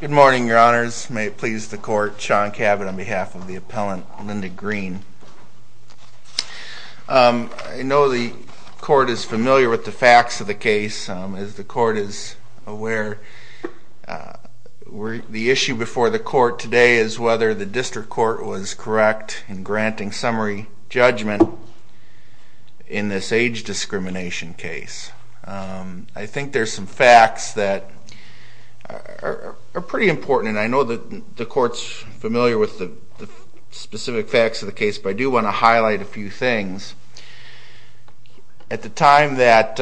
Good morning, your honors. May it please the court, Sean Cabot on behalf of the appellant Linda Green. I know the court is familiar with the facts of the case. As the court is aware, the issue before the court today is whether the district court was correct in granting summary judgment in this age discrimination case. I think there are some facts that are pretty important, and I know the court is familiar with the specific facts of the case, but I do want to highlight a few things. At the time that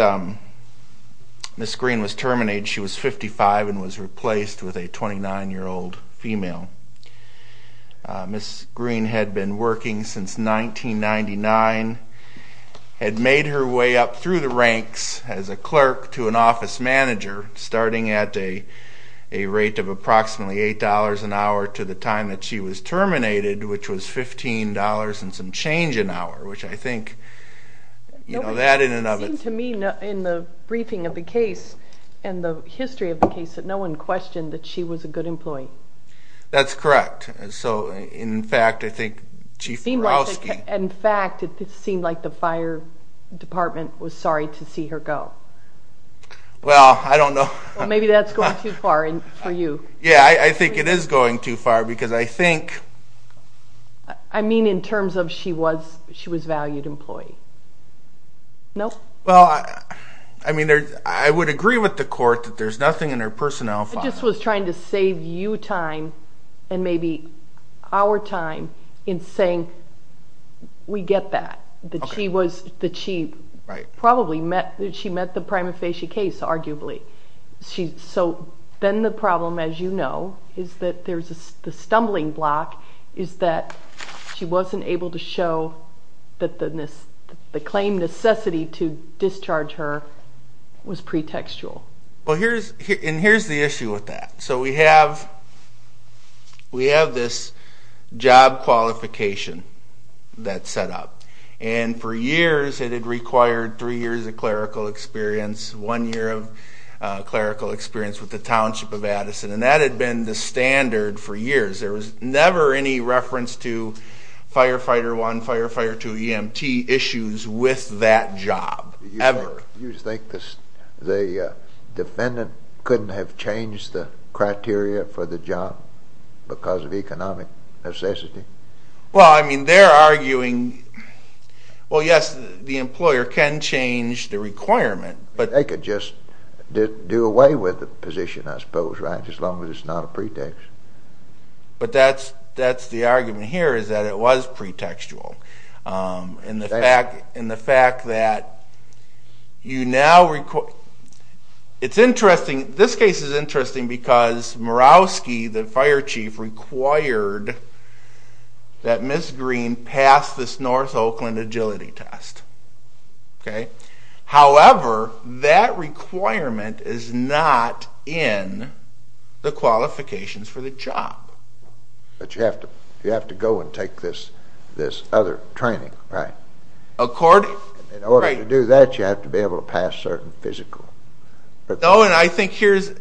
Ms. Green was terminated, she was 55 and was replaced with a 29-year-old female. Ms. Green had been working since 1999, had made her way up through the ranks as a clerk to an office manager, starting at a rate of approximately $8 an hour to the time that she was terminated, which was $15 and some change an hour. It seemed to me in the briefing of the case and the history of the case that no one questioned that she was a good employee. That's correct. In fact, it seemed like the fire department was sorry to see her go. Well, I don't know. Maybe that's going too far for you. Yeah, I think it is going too far. I mean in terms of she was valued employee. Nope. Well, I mean, I would agree with the court that there's nothing in her personnel file. I just was trying to save you time and maybe our time in saying we get that, that she probably met the prima facie case arguably. So then the problem, as you know, is that there's the stumbling block is that she wasn't able to show that the claim necessity to discharge her was pretextual. Well, here's the issue with that. So we have this job qualification that's set up. And for years it had required three years of clerical experience, one year of clerical experience with the Township of Addison. And that had been the standard for years. There was never any reference to Firefighter 1, Firefighter 2, EMT issues with that job, ever. You think the defendant couldn't have changed the criteria for the job because of economic necessity? Well, I mean, they're arguing, well, yes, the employer can change the requirement. They could just do away with the position, I suppose, right, as long as it's not a pretext. But that's the argument here is that it was pretextual. And the fact that you now require, it's interesting, this case is interesting because Mirowski, the fire chief, required that Ms. Green pass this North Oakland agility test. However, that requirement is not in the qualifications for the job. But you have to go and take this other training, right? In order to do that, you have to be able to pass certain physical. Oh, and I think here's the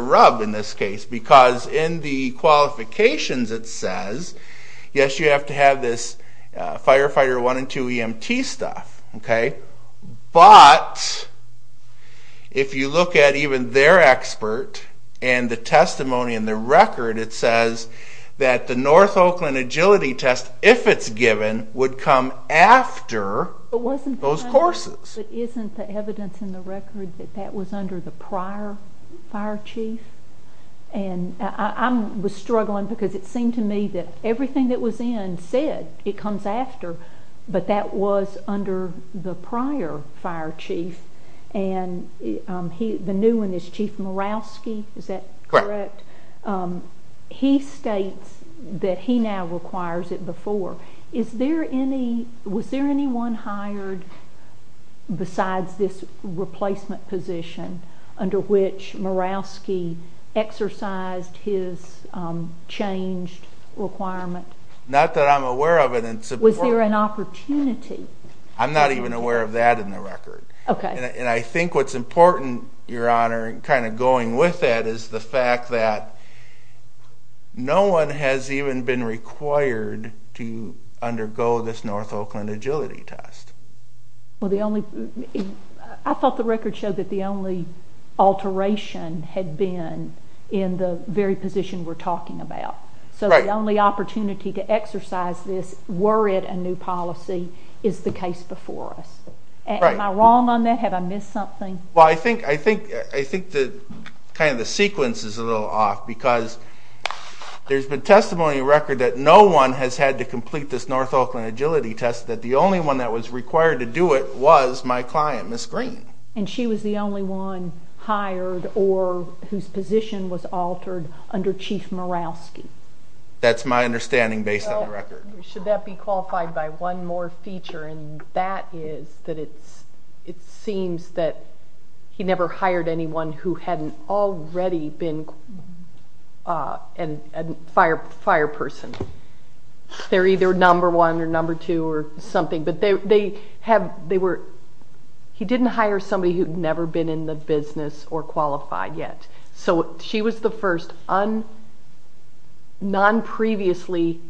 rub in this case. Because in the qualifications it says, yes, you have to have this Firefighter 1 and 2 EMT stuff. But if you look at even their expert and the testimony and the record, it says that the North Oakland agility test, if it's given, would come after those courses. But isn't the evidence in the record that that was under the prior fire chief? And I was struggling because it seemed to me that everything that was in said it comes after, but that was under the prior fire chief. And the new one is Chief Mirowski, is that correct? Correct. He states that he now requires it before. Was there anyone hired besides this replacement position under which Mirowski exercised his changed requirement? Not that I'm aware of. Was there an opportunity? I'm not even aware of that in the record. Okay. And I think what's important, Your Honor, kind of going with that is the fact that no one has even been required to undergo this North Oakland agility test. I thought the record showed that the only alteration had been in the very position we're talking about. So the only opportunity to exercise this, were it a new policy, is the case before us. Am I wrong on that? Have I missed something? Well, I think kind of the sequence is a little off because there's been testimony in the record that no one has had to complete this North Oakland agility test, that the only one that was required to do it was my client, Ms. Green. And she was the only one hired or whose position was altered under Chief Mirowski? That's my understanding based on the record. Should that be qualified by one more feature? And that is that it seems that he never hired anyone who hadn't already been a fire person. They're either number one or number two or something. But they have, they were, he didn't hire somebody who'd never been in the business or qualified yet. So she was the first non-previously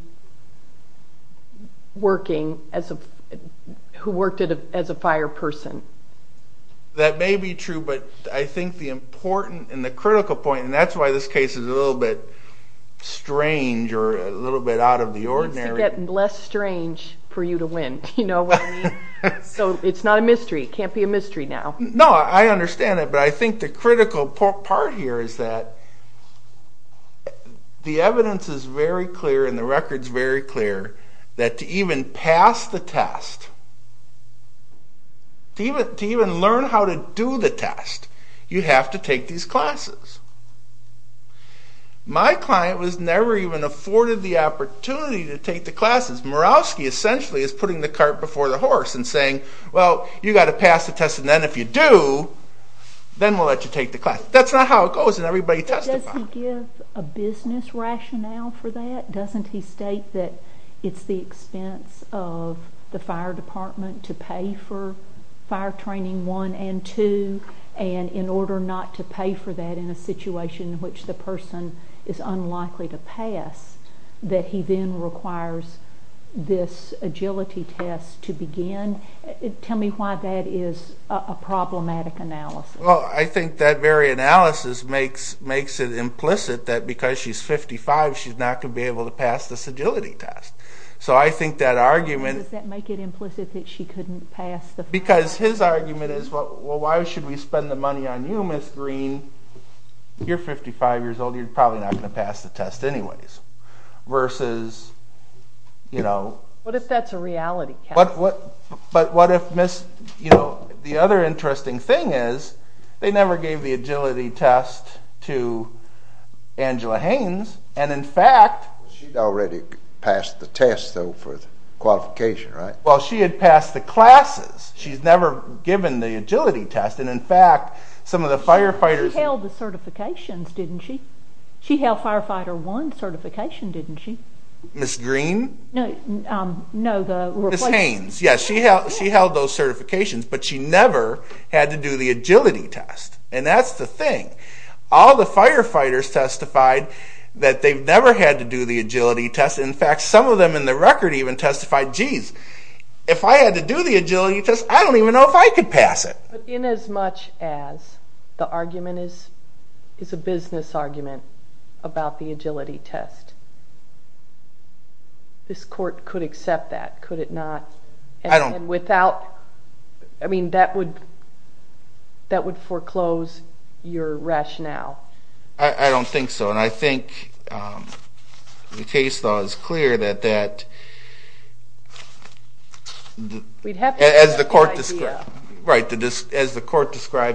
working as a, who worked as a fire person. That may be true, but I think the important and the critical point, and that's why this case is a little bit strange or a little bit out of the ordinary. It gets less strange for you to win. You know what I mean? So it's not a mystery. It can't be a mystery now. No, I understand that, but I think the critical part here is that the evidence is very clear and the record's very clear that to even pass the test, to even learn how to do the test, you have to take these classes. My client was never even afforded the opportunity to take the classes. Morawski essentially is putting the cart before the horse and saying, well, you've got to pass the test and then if you do, then we'll let you take the class. That's not how it goes and everybody testifies. But doesn't he give a business rationale for that? Doesn't he state that it's the expense of the fire department to pay for fire training one and two and in order not to pay for that in a situation in which the person is unlikely to pass, that he then requires this agility test to begin? Tell me why that is a problematic analysis. Well, I think that very analysis makes it implicit that because she's 55, she's not going to be able to pass this agility test. So I think that argument... Does that make it implicit that she couldn't pass the test? Because his argument is, well, why should we spend the money on you, Ms. Green? You're 55 years old. You're probably not going to pass the test anyways. Versus, you know... What if that's a reality test? But what if, you know, the other interesting thing is they never gave the agility test to Angela Haynes and in fact... She'd already passed the test, though, for the qualification, right? Well, she had passed the classes. She's never given the agility test. And in fact, some of the firefighters... She held the certifications, didn't she? She held Firefighter 1 certification, didn't she? Ms. Green? No, the... Ms. Haynes. Yes, she held those certifications, but she never had to do the agility test. And that's the thing. All the firefighters testified that they've never had to do the agility test. In fact, some of them in the record even testified, geez, if I had to do the agility test, I don't even know if I could pass it. But inasmuch as the argument is a business argument about the agility test, this court could accept that, could it not? I don't... And without... I mean, that would foreclose your rationale. I don't think so. And I think the case law is clear that that... As the court describes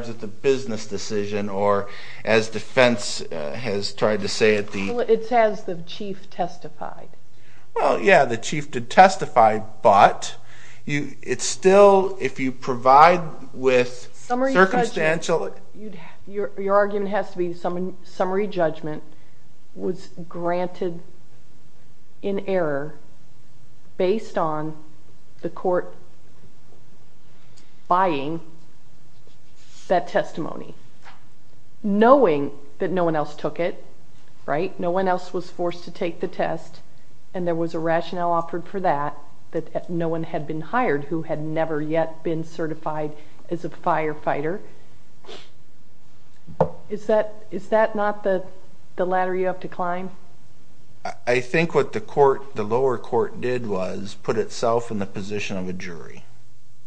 it, the business decision, or as defense has tried to say at the... It says the chief testified. Well, yeah, the chief did testify, but it's still, if you provide with circumstantial... Summary judgment. Your argument has to be summary judgment was granted in error based on the court buying that testimony, knowing that no one else took it, right? No one else was forced to take the test, and there was a rationale offered for that, that no one had been hired who had never yet been certified as a firefighter. Is that not the ladder you have to climb? I think what the lower court did was put itself in the position of a jury.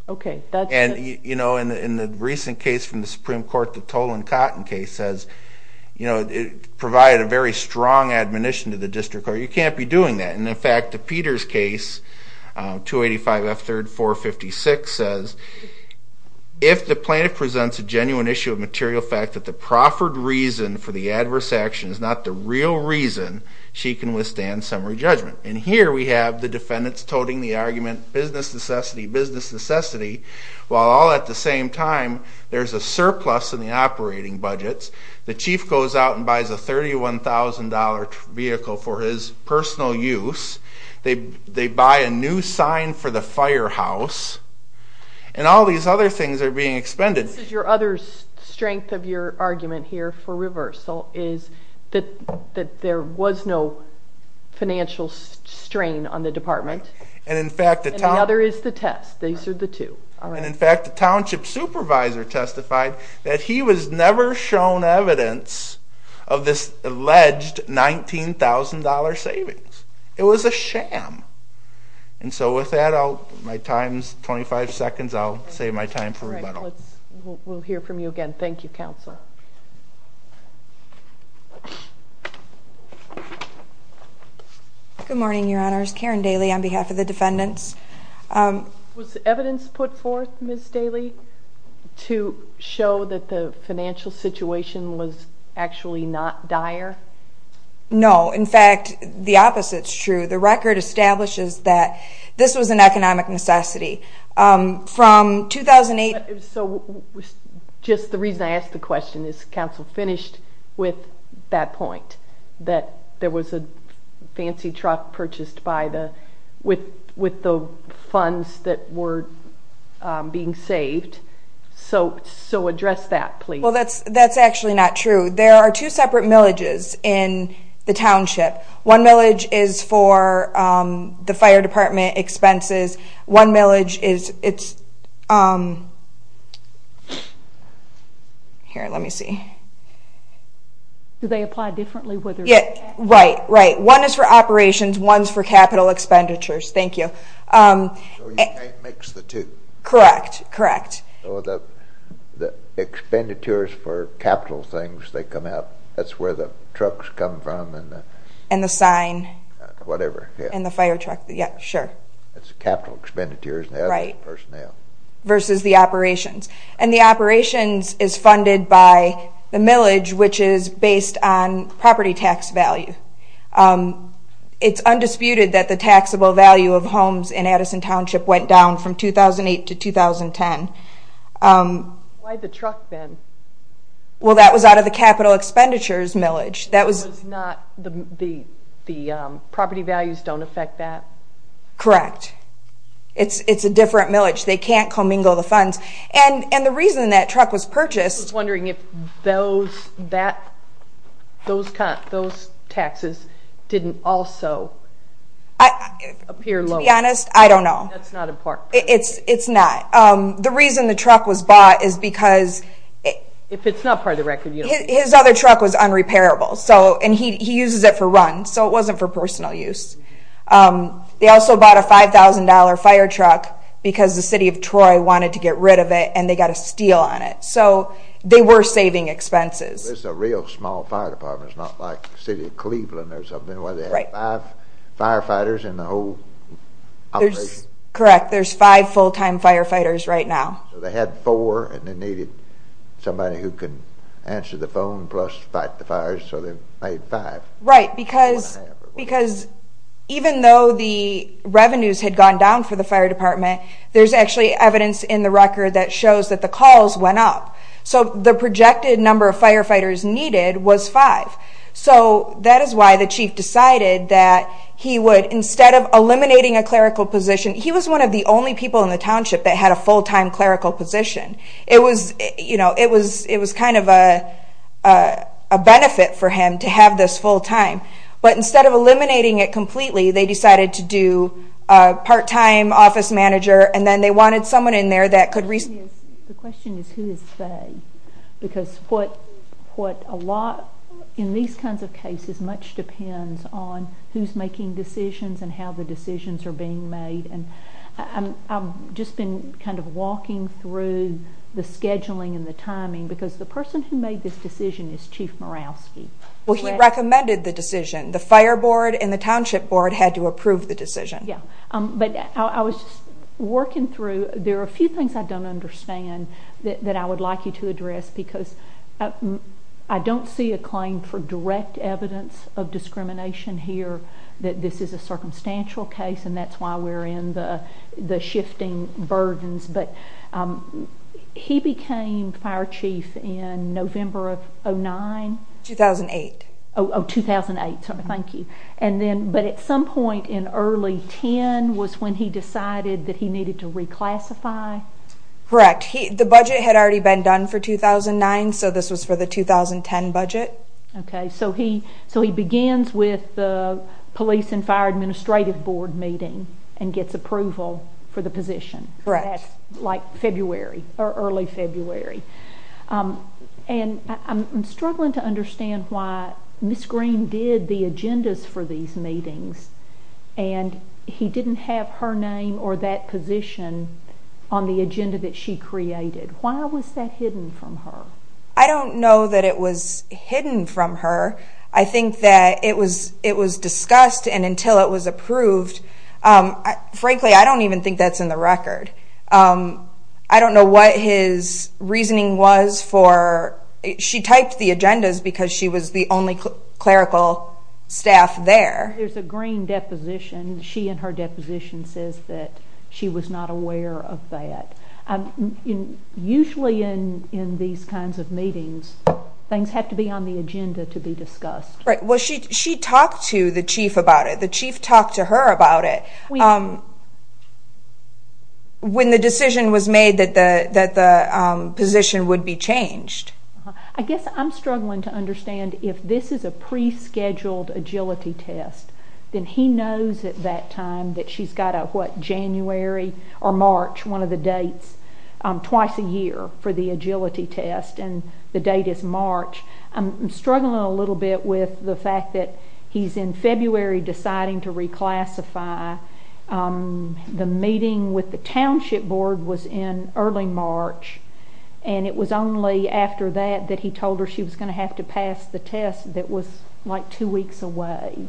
Okay, that's... And in the recent case from the Supreme Court, the Tolan Cotton case, it provided a very strong admonition to the district court, you can't be doing that. And, in fact, the Peters case, 285 F. 3rd 456, says, if the plaintiff presents a genuine issue of material fact that the proffered reason for the adverse action is not the real reason, she can withstand summary judgment. And here we have the defendants toting the argument, business necessity, business necessity, while all at the same time there's a surplus in the operating budgets. The chief goes out and buys a $31,000 vehicle for his personal use. They buy a new sign for the firehouse. And all these other things are being expended. This is your other strength of your argument here for reversal, is that there was no financial strain on the department. And another is the test. These are the two. And, in fact, the township supervisor testified that he was never shown evidence of this alleged $19,000 savings. It was a sham. And so with that, my time's 25 seconds. I'll save my time for rebuttal. We'll hear from you again. Thank you, Counselor. Good morning, Your Honors. Karen Daly on behalf of the defendants. Was evidence put forth, Ms. Daly, to show that the financial situation was actually not dire? No. In fact, the opposite's true. The record establishes that this was an economic necessity. From 2008… So just the reason I ask the question, is Counsel finished with that point, that there was a fancy truck purchased with the funds that were being saved? So address that, please. Well, that's actually not true. There are two separate millages in the township. One millage is for the fire department expenses. One millage is… Here, let me see. Do they apply differently? Right, right. One is for operations. One's for capital expenditures. Thank you. So you can't mix the two? Correct, correct. So the expenditures for capital things, they come out. That's where the trucks come from and the… And the sign. Whatever, yeah. And the fire truck. Yeah, sure. It's capital expenditures, not personnel. Versus the operations. And the operations is funded by the millage, which is based on property tax value. It's undisputed that the taxable value of homes in Addison Township went down from 2008 to 2010. Why the truck then? Well, that was out of the capital expenditures millage. That was not the property values don't affect that? Correct. It's a different millage. They can't commingle the funds. And the reason that truck was purchased… I was wondering if those taxes didn't also appear lower. To be honest, I don't know. That's not important. It's not. The reason the truck was bought is because… If it's not part of the record, you don't know. His other truck was unrepairable, and he uses it for runs, so it wasn't for personal use. They also bought a $5,000 fire truck because the city of Troy wanted to get rid of it, and they got a steal on it. So they were saving expenses. It's a real small fire department. It's not like the city of Cleveland or something where they have five firefighters in the whole operation. Correct. There's five full-time firefighters right now. They had four, and they needed somebody who could answer the phone plus fight the fires, so they made five. Right, because even though the revenues had gone down for the fire department, there's actually evidence in the record that shows that the calls went up. So the projected number of firefighters needed was five. So that is why the chief decided that he would, instead of eliminating a clerical position, he was one of the only people in the township that had a full-time clerical position. It was kind of a benefit for him to have this full-time. But instead of eliminating it completely, they decided to do a part-time office manager, and then they wanted someone in there that could respond. The question is, who is they? Because in these kinds of cases, much depends on who's making decisions and how the decisions are being made. I've just been kind of walking through the scheduling and the timing because the person who made this decision is Chief Mirowski. Well, he recommended the decision. The fire board and the township board had to approve the decision. Yeah, but I was just working through. There are a few things I don't understand that I would like you to address because I don't see a claim for direct evidence of discrimination here that this is a circumstantial case, and that's why we're in the shifting burdens. But he became fire chief in November of 2009? 2008. Oh, 2008. Thank you. But at some point in early 2010 was when he decided that he needed to reclassify? Correct. The budget had already been done for 2009, so this was for the 2010 budget. Okay, so he begins with the police and fire administrative board meeting and gets approval for the position. Correct. That's like February or early February. And I'm struggling to understand why Miss Green did the agendas for these meetings and he didn't have her name or that position on the agenda that she created. Why was that hidden from her? I don't know that it was hidden from her. I think that it was discussed and until it was approved. Frankly, I don't even think that's in the record. I don't know what his reasoning was for it. She typed the agendas because she was the only clerical staff there. There's a green deposition. She in her deposition says that she was not aware of that. Usually in these kinds of meetings, things have to be on the agenda to be discussed. Right. Well, she talked to the chief about it. The chief talked to her about it when the decision was made that the position would be changed. I guess I'm struggling to understand if this is a pre-scheduled agility test, then he knows at that time that she's got a, what, January or March, one of the dates, twice a year for the agility test and the date is March. I'm struggling a little bit with the fact that he's in February deciding to reclassify. The meeting with the township board was in early March and it was only after that that he told her she was going to have to pass the test that was like two weeks away.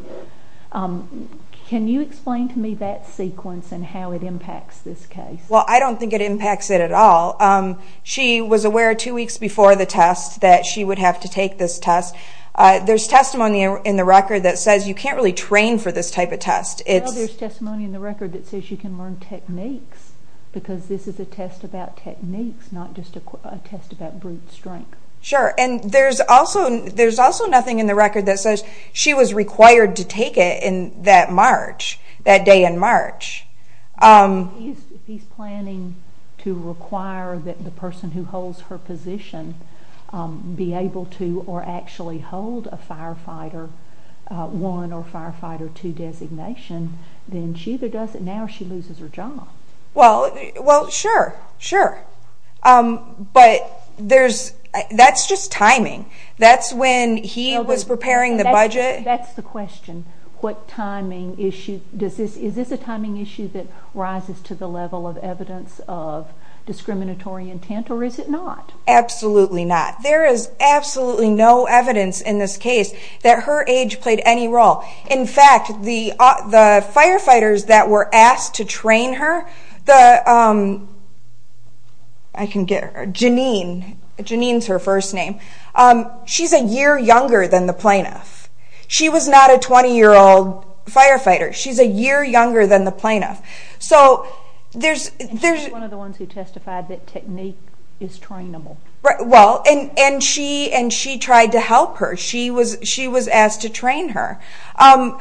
Can you explain to me that sequence and how it impacts this case? Well, I don't think it impacts it at all. She was aware two weeks before the test that she would have to take this test. There's testimony in the record that says you can't really train for this type of test. Well, there's testimony in the record that says you can learn techniques because this is a test about techniques, not just a test about brute strength. Sure, and there's also nothing in the record that says she was required to take it that day in March. He's planning to require that the person who holds her position be able to or actually hold a firefighter one or firefighter two designation, then she either does it now or she loses her job. Well, sure, sure, but that's just timing. That's when he was preparing the budget. That's the question. Is this a timing issue that rises to the level of evidence of discriminatory intent or is it not? Absolutely not. There is absolutely no evidence in this case that her age played any role. In fact, the firefighters that were asked to train her, Janine is her first name, she's a year younger than the plaintiff. She was not a 20-year-old firefighter. She's a year younger than the plaintiff. She's one of the ones who testified that technique is trainable. Well, and she tried to help her. She was asked to train her. I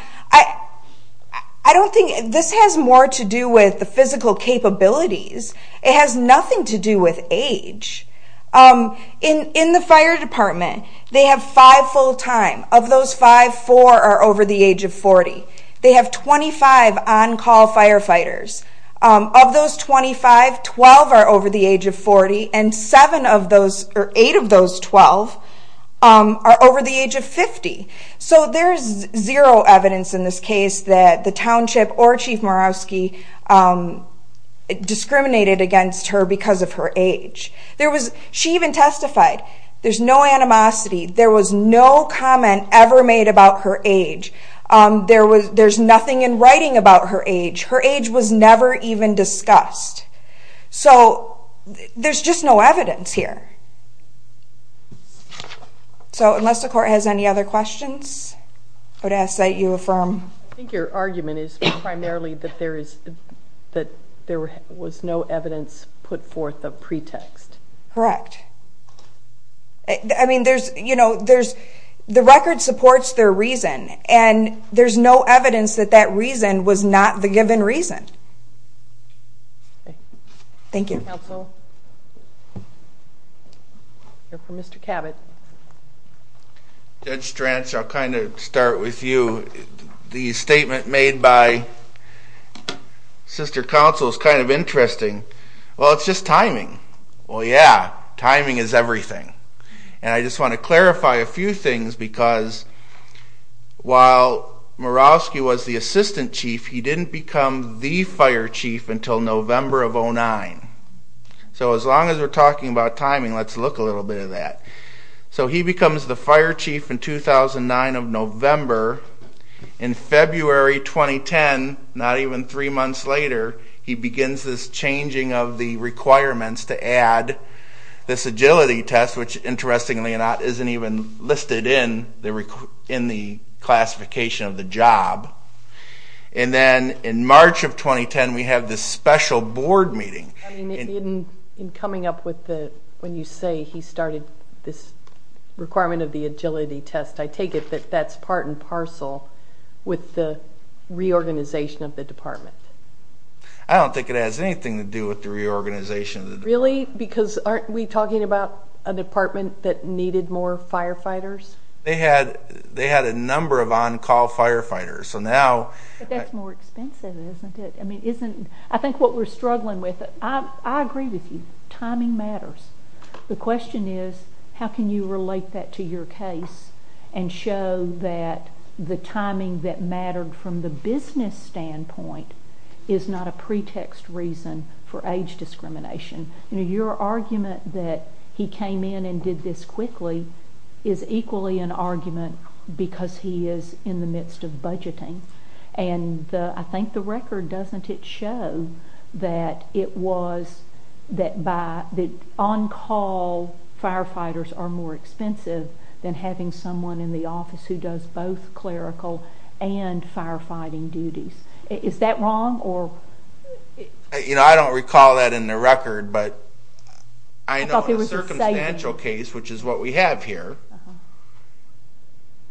don't think this has more to do with the physical capabilities. It has nothing to do with age. In the fire department, they have five full-time. Of those five, four are over the age of 40. They have 25 on-call firefighters. Of those 25, 12 are over the age of 40, and eight of those 12 are over the age of 50. So there's zero evidence in this case that the township or Chief Marowski discriminated against her because of her age. She even testified, there's no animosity. There was no comment ever made about her age. There's nothing in writing about her age. Her age was never even discussed. So there's just no evidence here. So unless the court has any other questions, I would ask that you affirm. I think your argument is primarily that there was no evidence put forth of pretext. Correct. I mean, there's, you know, the record supports their reason, and there's no evidence that that reason was not the given reason. Thank you. Counsel? We'll hear from Mr. Cabot. Judge Stranz, I'll kind of start with you. The statement made by Sister Counsel is kind of interesting. Well, it's just timing. Well, yeah, timing is everything. And I just want to clarify a few things because while Marowski was the Assistant Chief, he didn't become the Fire Chief until November of 2009. So as long as we're talking about timing, let's look a little bit at that. So he becomes the Fire Chief in 2009 of November. In February 2010, not even three months later, he begins this changing of the requirements to add this agility test, which interestingly enough isn't even listed in the classification of the job. And then in March of 2010, we have this special board meeting. In coming up with the, when you say he started this requirement of the agility test, I take it that that's part and parcel with the reorganization of the department. I don't think it has anything to do with the reorganization of the department. Really? Because aren't we talking about a department that needed more firefighters? They had a number of on-call firefighters. But that's more expensive, isn't it? I think what we're struggling with, I agree with you, timing matters. The question is, how can you relate that to your case and show that the timing that mattered from the business standpoint is not a pretext reason for age discrimination? Your argument that he came in and did this quickly is equally an argument because he is in the midst of budgeting. I think the record, doesn't it show that it was that on-call firefighters are more expensive than having someone in the office who does both clerical and firefighting duties? Is that wrong? I don't recall that in the record, but I know in a circumstantial case, which is what we have here,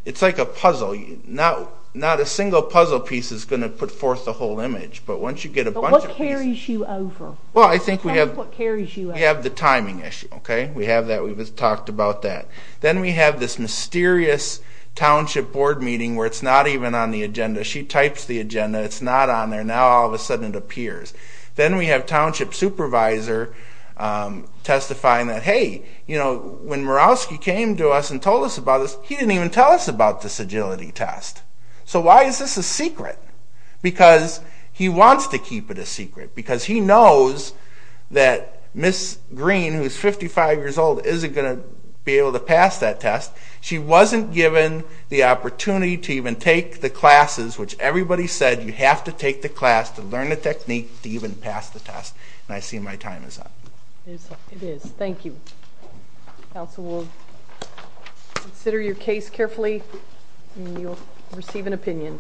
it's like a puzzle. Not a single puzzle piece is going to put forth the whole image. But once you get a bunch of pieces... What carries you over? We have the timing issue. We talked about that. Then we have this mysterious township board meeting where it's not even on the agenda. She types the agenda, it's not on there. Now all of a sudden it appears. Then we have township supervisor testifying that, hey, when Mirowski came to us and told us about this, he didn't even tell us about this agility test. So why is this a secret? Because he wants to keep it a secret. Because he knows that Ms. Green, who is 55 years old, isn't going to be able to pass that test. She wasn't given the opportunity to even take the classes, which everybody said you have to take the class to learn the technique to even pass the test. And I see my time is up. It is. Thank you. Counsel will consider your case carefully, and you will receive an opinion.